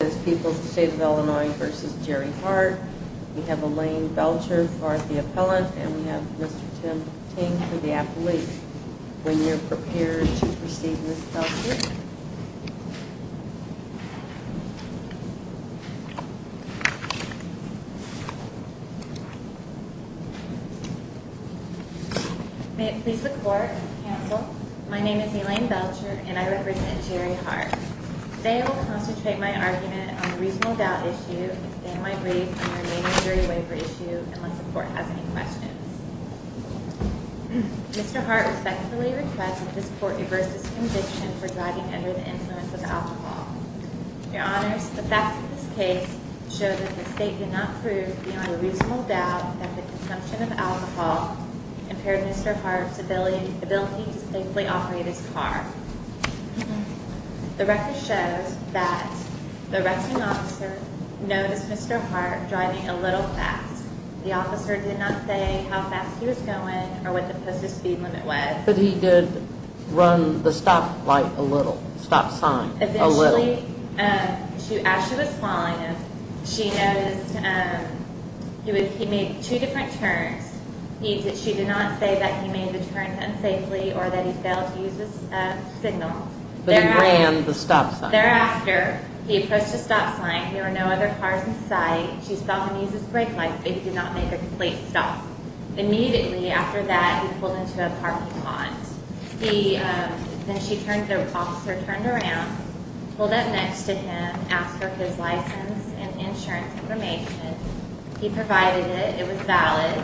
This is People's State of Illinois v. Jerry Hart. We have Elaine Belcher for the appellant, and we have Mr. Tim Ting for the appellate. When you're prepared to proceed, Ms. Belcher. May it please the Court, counsel. My name is Elaine Belcher, and I represent Jerry Hart. Today I will concentrate my argument on the reasonable doubt issue and expand my brief on the remaining jury waiver issue, unless the Court has any questions. Mr. Hart respectfully requests that this Court reverse its conviction for driving under the influence of alcohol. Your Honors, the facts of this case show that the State did not prove, beyond a reasonable doubt, that the consumption of alcohol impaired Mr. Hart's ability to safely operate his car. The record shows that the arresting officer noticed Mr. Hart driving a little fast. The officer did not say how fast he was going or what the posted speed limit was. But he did run the stop light a little. Stop sign a little. As she was following him, she noticed he made two different turns. She did not say that he made the turns unsafely or that he failed to use his signal. But he ran the stop sign. Thereafter, he approached the stop sign. There were no other cars in sight. She saw him use his brake light, but he did not make a complete stop. Immediately after that, he pulled into a parking lot. Then the officer turned around, pulled up next to him, asked for his license and insurance information. He provided it. It was valid.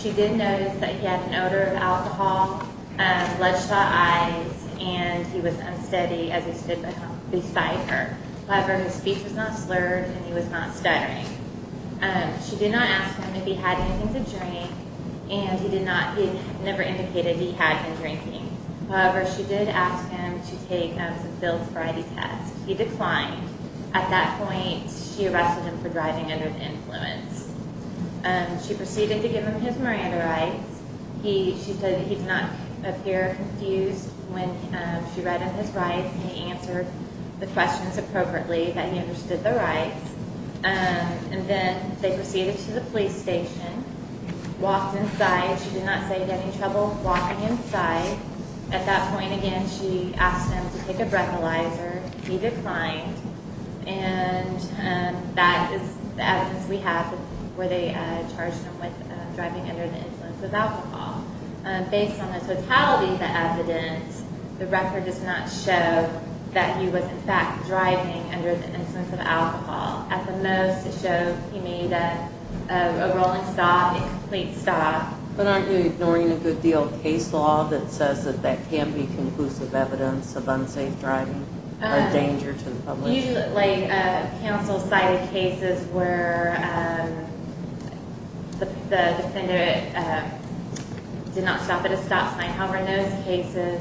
She did notice that he had an odor of alcohol, bledshot eyes, and he was unsteady as he stood beside her. However, his speech was not slurred and he was not stuttering. She did not ask him if he had anything to drink and he never indicated he had any drinking. However, she did ask him to take some pills for ID tests. He declined. At that point, she arrested him for driving under the influence. She proceeded to give him his Miranda rights. She said he did not appear confused when she read him his rights and he answered the questions appropriately, that he understood the rights. Then they proceeded to the police station. He walked inside. She did not say he had any trouble walking inside. At that point again, she asked him to take a breathalyzer. He declined. That is the evidence we have where they charged him with driving under the influence of alcohol. Based on the totality of the evidence, the record does not show that he was in fact driving under the influence of alcohol. At the most, it shows he made a rolling stop, a complete stop. But aren't you ignoring a good deal of case law that says that that can be conclusive evidence of unsafe driving or danger to the public? Usually, counsel cited cases where the defender did not stop at a stop sign. However, in those cases,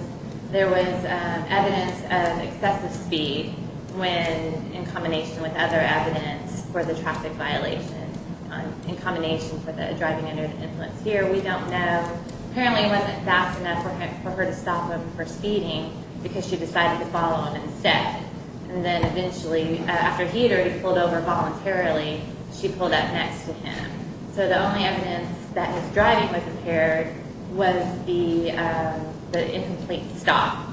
there was evidence of excessive speed in combination with other evidence for the traffic violation. In combination for the driving under the influence here, we don't know. Apparently, it wasn't fast enough for her to stop him for speeding because she decided to follow him instead. Then eventually, after he had already pulled over voluntarily, she pulled up next to him. So the only evidence that his driving was impaired was the incomplete stop.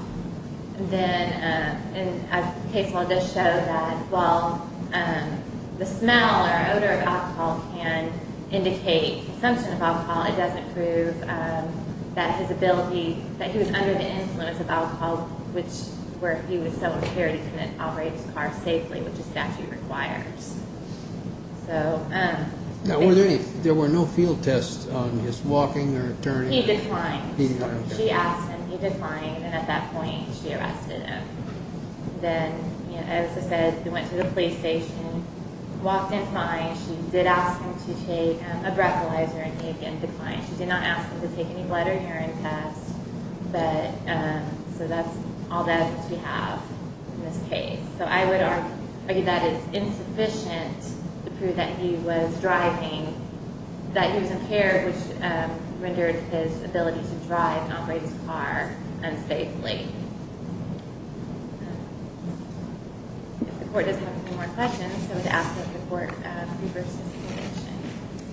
Then, as the case law does show, that while the smell or odor of alcohol can indicate consumption of alcohol, it doesn't prove that his ability, that he was under the influence of alcohol, which where he was so impaired he couldn't operate his car safely, which a statute requires. Now, were there any, there were no field tests on his walking or turning? He declined. He declined. She asked him, he declined, and at that point, she arrested him. Then, as I said, he went to the police station, walked in fine. She did ask him to take a breathalyzer and he, again, declined. She did not ask him to take any blood or urine tests. So that's all that we have in this case. So I would argue that it's insufficient to prove that he was driving, that he was impaired, which rendered his ability to drive and operate his car unsafely. Thank you. If the court doesn't have any more questions, I would ask that the court reverse its decision.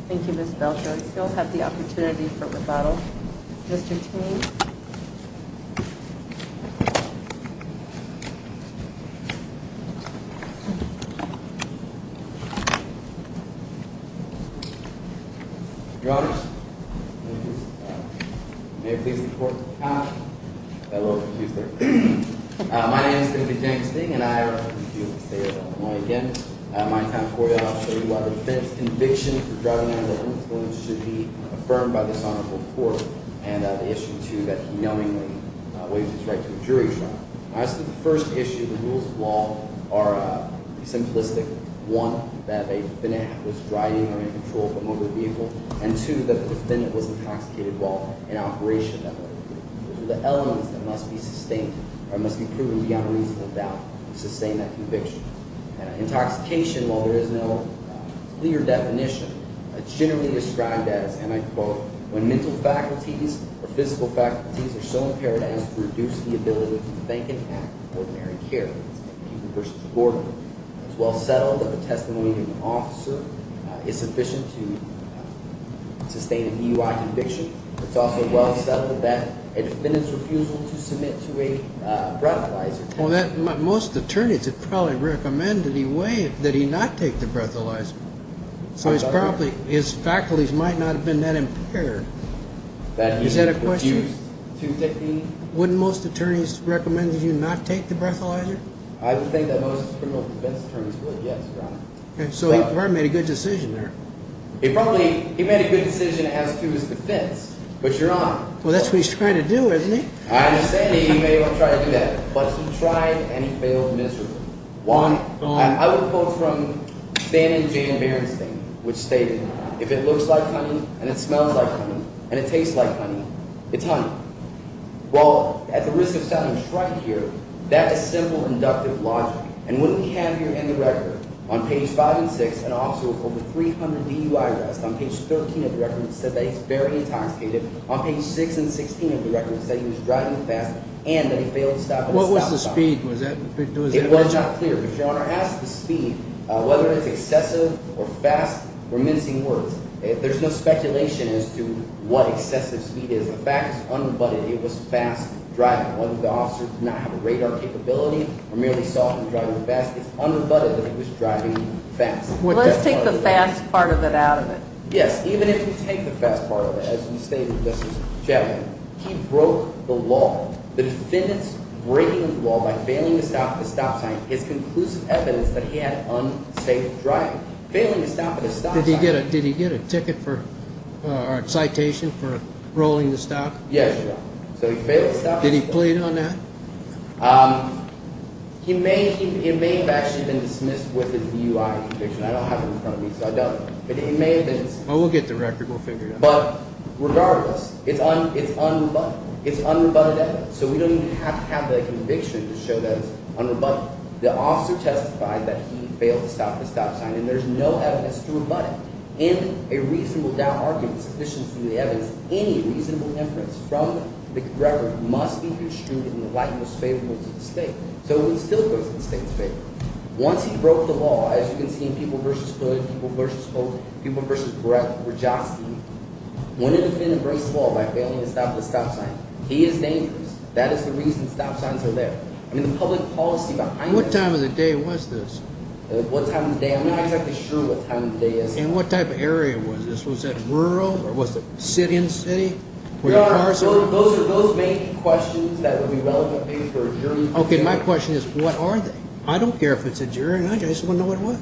Thank you, Ms. Belcher. We still have the opportunity for rebuttal. Mr. Tame. Your Honor, may I please report to the court? Hello. My name is Timothy James Ding, and I refuse to say it out loud again. My time for you all is to say why the defense conviction for driving under the influence should be affirmed by this honorable court and the issue, too, that he knowingly waived his right to a jury trial. As to the first issue, the rules of law are simplistic. One, that a defendant was driving or in control from over the vehicle. And two, that the defendant was intoxicated while in operation. Those are the elements that must be sustained or must be proven beyond reasonable doubt to sustain that conviction. Intoxication, while there is no clear definition, it's generally described as, and I quote, when mental faculties or physical faculties are so impaired as to reduce the ability to think and act in ordinary care. It's well settled that the testimony of an officer is sufficient to sustain a DUI conviction. It's also well settled that a defendant's refusal to submit to a breathalyzer test. Well, most attorneys would probably recommend that he not take the breathalyzer. So his faculties might not have been that impaired. Is that a question? Wouldn't most attorneys recommend that he not take the breathalyzer? I would think that most criminal defense attorneys would, yes, Your Honor. So he probably made a good decision there. He probably made a good decision as to his defense, but Your Honor. Well, that's what he's trying to do, isn't he? I understand that he may have tried to do that, but he tried and he failed miserably. Juan, I would quote from Stan and Jan Berenstain, which stated, if it looks like honey and it smells like honey and it tastes like honey, it's honey. Well, at the risk of sounding shrunk here, that is simple inductive logic. And what we have here in the record, on page 5 and 6, an officer with over 300 DUI arrests, on page 13 of the record, said that he's very intoxicated. On page 6 and 16 of the record, he said he was driving fast and that he failed to stop at a stop sign. What was the speed? It was not clear, but Your Honor, ask the speed, whether it's excessive or fast or mincing words. There's no speculation as to what excessive speed is. The fact is unabutted, it was fast driving. Whether the officer did not have a radar capability or merely saw him driving fast, it's unabutted that he was driving fast. Let's take the fast part of it out of it. Yes, even if you take the fast part of it, as you stated, Justice Chaffetz, he broke the law. The defendant's breaking the law by failing to stop at a stop sign is conclusive evidence that he had unsafe driving. Failing to stop at a stop sign… Did he get a ticket for – or a citation for rolling the stop? Yes, Your Honor. So he failed to stop at a stop sign. Did he plead on that? He may have actually been dismissed with his DUI conviction. I don't have it in front of me, so I doubt it. But it may have been – Well, we'll get the record. We'll figure it out. But regardless, it's unabutted. It's unabutted evidence, so we don't even have to have the conviction to show that it's unabutted. The officer testified that he failed to stop at a stop sign, and there's no evidence to rebut it. In a reasonable doubt argument, sufficient to do the evidence, any reasonable inference from the record must be construed in the light most favorable to the State. So it still goes in the State's favor. Once he broke the law, as you can see in People v. Hood, People v. Holtz, People v. Brett Rajovski, when a defendant breaks the law by failing to stop at a stop sign, he is dangerous. That is the reason stop signs are there. I mean, the public policy behind it – What time of the day was this? What time of the day? I'm not exactly sure what time of the day it was. And what type of area was this? Was it rural or was it sit-in city? No, Your Honor. Those may be questions that would be relevant maybe for a jury proceeding. Okay, my question is what are they? I don't care if it's a jury or not. I just want to know what it was.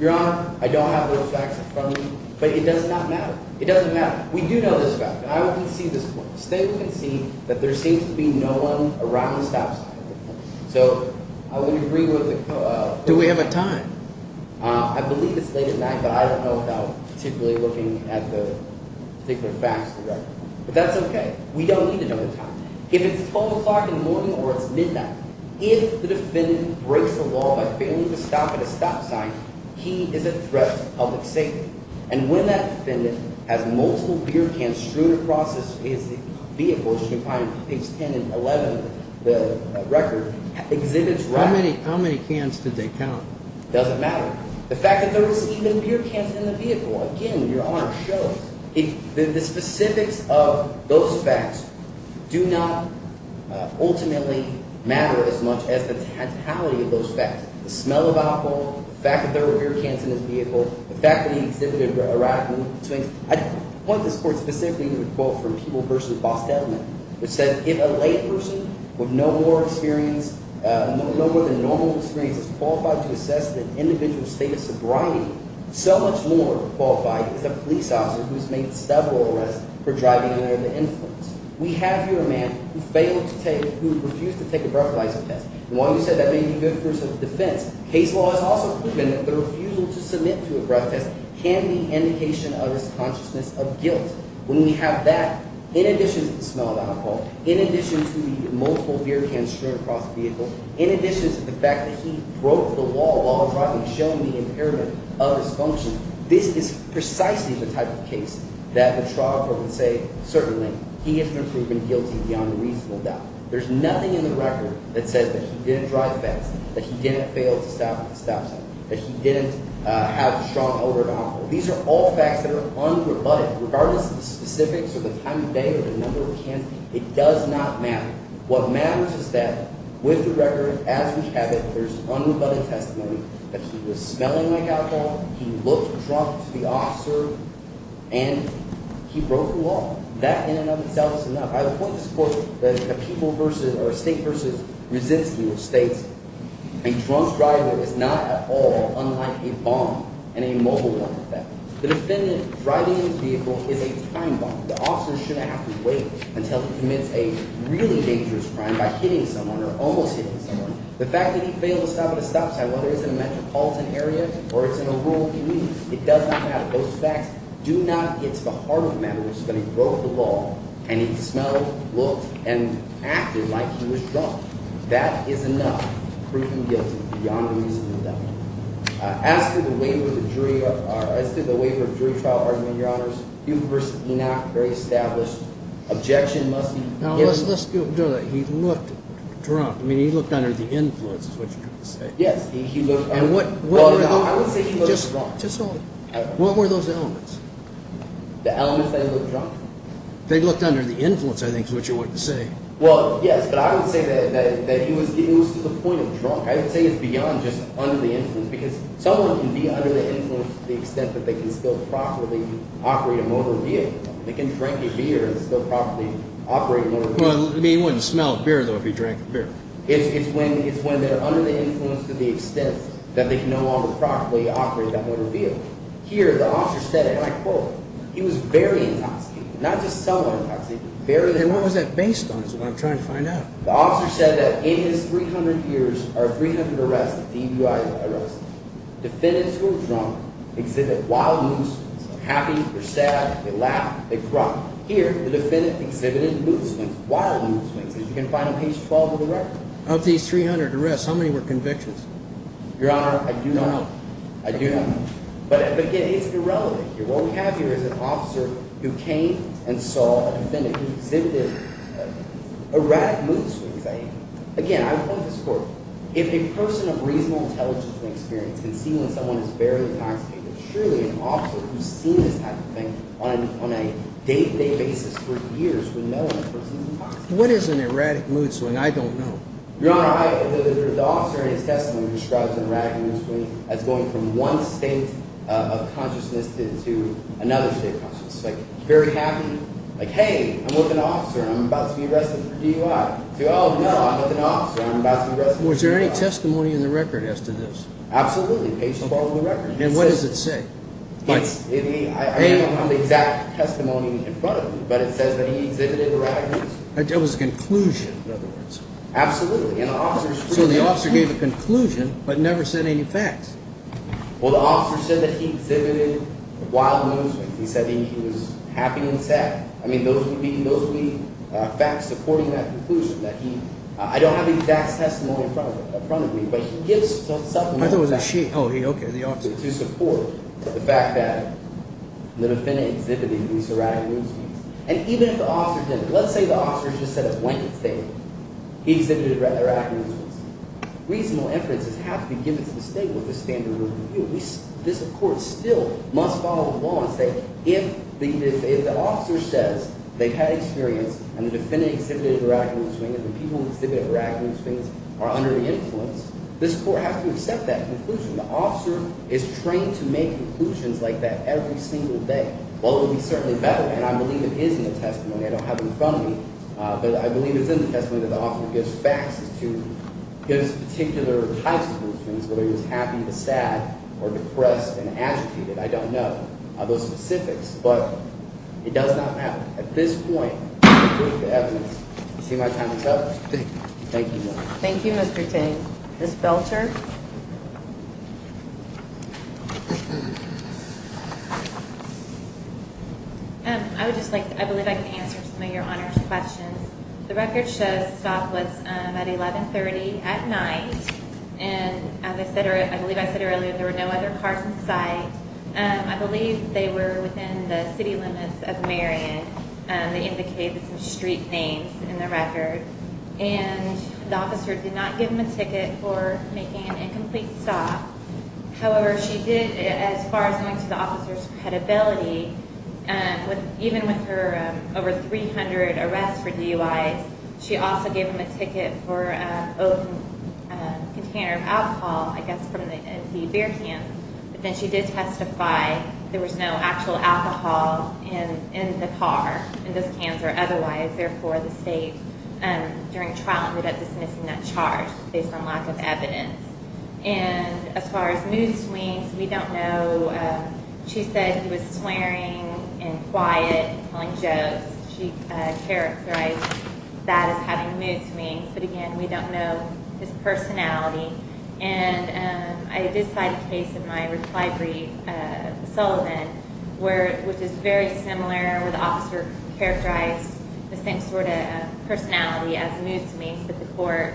Your Honor, I don't have those facts in front of me, but it does not matter. It doesn't matter. We do know this fact, and I will concede this point. The State will concede that there seems to be no one around the stop sign. So I would agree with the – Do we have a time? I believe it's late at night, but I don't know without particularly looking at the particular facts of the record. But that's okay. We don't need to know the time. If it's 12 o'clock in the morning or it's midnight, if the defendant breaks the law by failing to stop at a stop sign, he is a threat to public safety. And when that defendant has multiple beer cans strewn across his vehicle, as you can find in page 10 and 11 of the record, exhibits – How many cans did they count? It doesn't matter. The fact that there was even beer cans in the vehicle, again, Your Honor, shows that the specifics of those facts do not ultimately matter as much as the totality of those facts. The smell of alcohol, the fact that there were beer cans in his vehicle, the fact that he exhibited erratic movements between – I want this court specifically to quote from People v. Bostelman, which says, If a lay person with no more experience – no more than normal experience is qualified to assess the individual's state of sobriety, so much more qualified is a police officer who's made several arrests for driving under the influence. We have here a man who failed to take – who refused to take a breathalyzer test. And while you said that may be good for his defense, case law has also proven that the refusal to submit to a breath test can be an indication of his consciousness of guilt. When we have that, in addition to the smell of alcohol, in addition to the multiple beer cans strewn across the vehicle, in addition to the fact that he broke the wall while driving, showing the impairment of his function, this is precisely the type of case that the trial court would say, certainly, he has been proven guilty beyond a reasonable doubt. There's nothing in the record that says that he didn't drive fast, that he didn't fail to stop at the stop sign, that he didn't have strong odor of alcohol. These are all facts that are unrebutted. Regardless of the specifics or the time of day or the number of cans, it does not matter. What matters is that with the record, as we have it, there's unbuttoned testimony that he was smelling like alcohol, he looked drunk to the officer, and he broke the wall. That in and of itself is enough. By the point of this court that a people versus – or a state versus resists the state, a drunk driver is not at all unlike a bomb and a mobile weapon. The defendant driving in his vehicle is a time bomb. The officer shouldn't have to wait until he commits a really dangerous crime by hitting someone or almost hitting someone. The fact that he failed to stop at a stop sign, whether it's in a metropolitan area or it's in a rural community, it does not matter. Those facts do not hit the heart of the matter. It's just that he broke the wall, and he smelled, looked, and acted like he was drunk. That is enough proving guilty beyond a reasonable doubt. As to the waiver of jury trial argument, Your Honors, people versus Enoch, very established. Objection must be given. Now, let's do that. He looked drunk. I mean, he looked under the influence is what you're trying to say. Yes, he looked – And what were those – I would say he looked drunk. Just all – what were those elements? The elements that he looked drunk. They looked under the influence, I think, is what you're trying to say. Well, yes, but I would say that he was to the point of drunk. I would say it's beyond just under the influence because someone can be under the influence to the extent that they can still properly operate a motor vehicle. They can drink a beer and still properly operate a motor vehicle. Well, I mean, he wouldn't smell a beer, though, if he drank a beer. It's when they're under the influence to the extent that they can no longer properly operate that motor vehicle. Here, the officer said it, and I quote, he was very intoxicated, not just somewhat intoxicated, very intoxicated. And what was that based on is what I'm trying to find out. The officer said that in his 300 years, there are 300 arrests, DUI arrests. Defendants who are drunk exhibit wild mood swings. They're happy, they're sad, they laugh, they grunt. Here, the defendant exhibited mood swings, wild mood swings, as you can find on page 12 of the record. Of these 300 arrests, how many were convictions? Your Honor, I do not know. I do not know. But, again, it's irrelevant here. What we have here is an officer who came and saw a defendant who exhibited erratic mood swings. Again, I would point to this court. If a person of reasonable intelligence and experience can see when someone is barely intoxicated, surely an officer who's seen this type of thing on a day-to-day basis for years would know when a person is intoxicated. What is an erratic mood swing? I don't know. Your Honor, the officer in his testimony describes an erratic mood swing as going from one state of consciousness to another state of consciousness. Like, very happy. Like, hey, I'm with an officer. I'm about to be arrested for DUI. Oh, no, I'm with an officer. I'm about to be arrested for DUI. Was there any testimony in the record as to this? Absolutely. Page 12 of the record. And what does it say? I don't have the exact testimony in front of me, but it says that he exhibited erratic mood swings. It was a conclusion, in other words. Absolutely. So the officer gave a conclusion but never said any facts. Well, the officer said that he exhibited wild mood swings. He said he was happy and sad. I mean, those would be facts supporting that conclusion. I don't have the exact testimony in front of me, but he gives some facts. I thought it was a she. Oh, okay, the officer. To support the fact that the defendant exhibited these erratic mood swings. And even if the officer didn't, let's say the officer just said it went to the state. He exhibited erratic mood swings. Reasonable inferences have to be given to the state with a standard of review. This court still must follow the law and say if the officer says they've had experience and the defendant exhibited erratic mood swings and the people who exhibited erratic mood swings are under the influence, this court has to accept that conclusion. The officer is trained to make conclusions like that every single day. Well, it would be certainly better, and I believe it is in the testimony. I don't have it in front of me, but I believe it's in the testimony that the officer gives facts as to his particular types of mood swings, whether he was happy, sad, or depressed and agitated. I don't know of those specifics, but it does not matter. At this point, the evidence. You see my time is up. Thank you. Thank you, Mr. Tate. Ms. Belcher. I believe I can answer some of your honors questions. The record shows the stop was at 1130 at night, and I believe I said earlier there were no other cars in sight. I believe they were within the city limits of Marion. They indicated some street names in the record, and the officer did not give him a ticket for making an incomplete stop. However, she did, as far as going to the officer's credibility, even with her over 300 arrests for DUIs, she also gave him a ticket for a container of alcohol, I guess from the beer can. But then she did testify there was no actual alcohol in the car, in those cans, or otherwise. Therefore, the state, during trial, ended up dismissing that charge based on lack of evidence. And as far as mood swings, we don't know. She said he was swearing and quiet, telling jokes. She characterized that as having mood swings, but again, we don't know his personality. And I did cite a case in my reply brief, Sullivan, which is very similar, where the officer characterized the same sort of personality as mood swings, but the court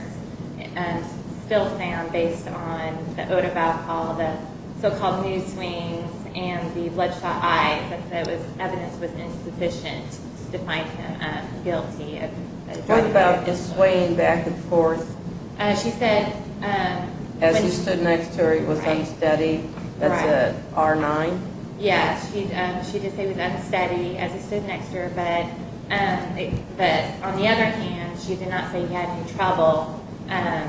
still found, based on the Odebaugh call, the so-called mood swings and the bloodshot eyes, that evidence was insufficient to find him guilty. Odebaugh is swaying back and forth. As he stood next to her, he was unsteady. That's it. R-9? Yes, she did say he was unsteady as he stood next to her. But on the other hand, she did not say he had any trouble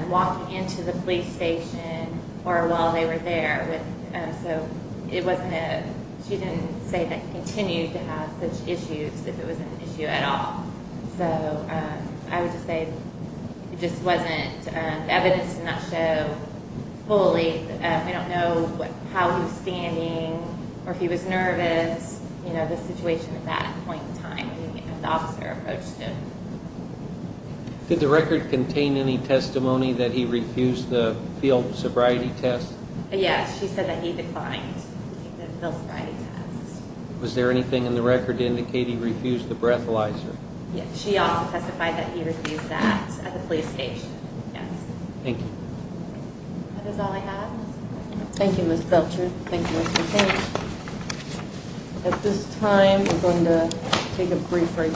walking into the police station or while they were there. She didn't say that he continued to have such issues, if it was an issue at all. So I would just say it just wasn't evidence to not show fully. We don't know how he was standing or if he was nervous, you know, the situation at that point in time when the officer approached him. Did the record contain any testimony that he refused the field sobriety test? Yes, she said that he declined the field sobriety test. Was there anything in the record to indicate he refused the breathalyzer? Yes, she also testified that he refused that at the police station, yes. Thank you. That is all I have. Thank you, Ms. Belcher. Thank you, Mr. King. At this time, we're going to take a brief break.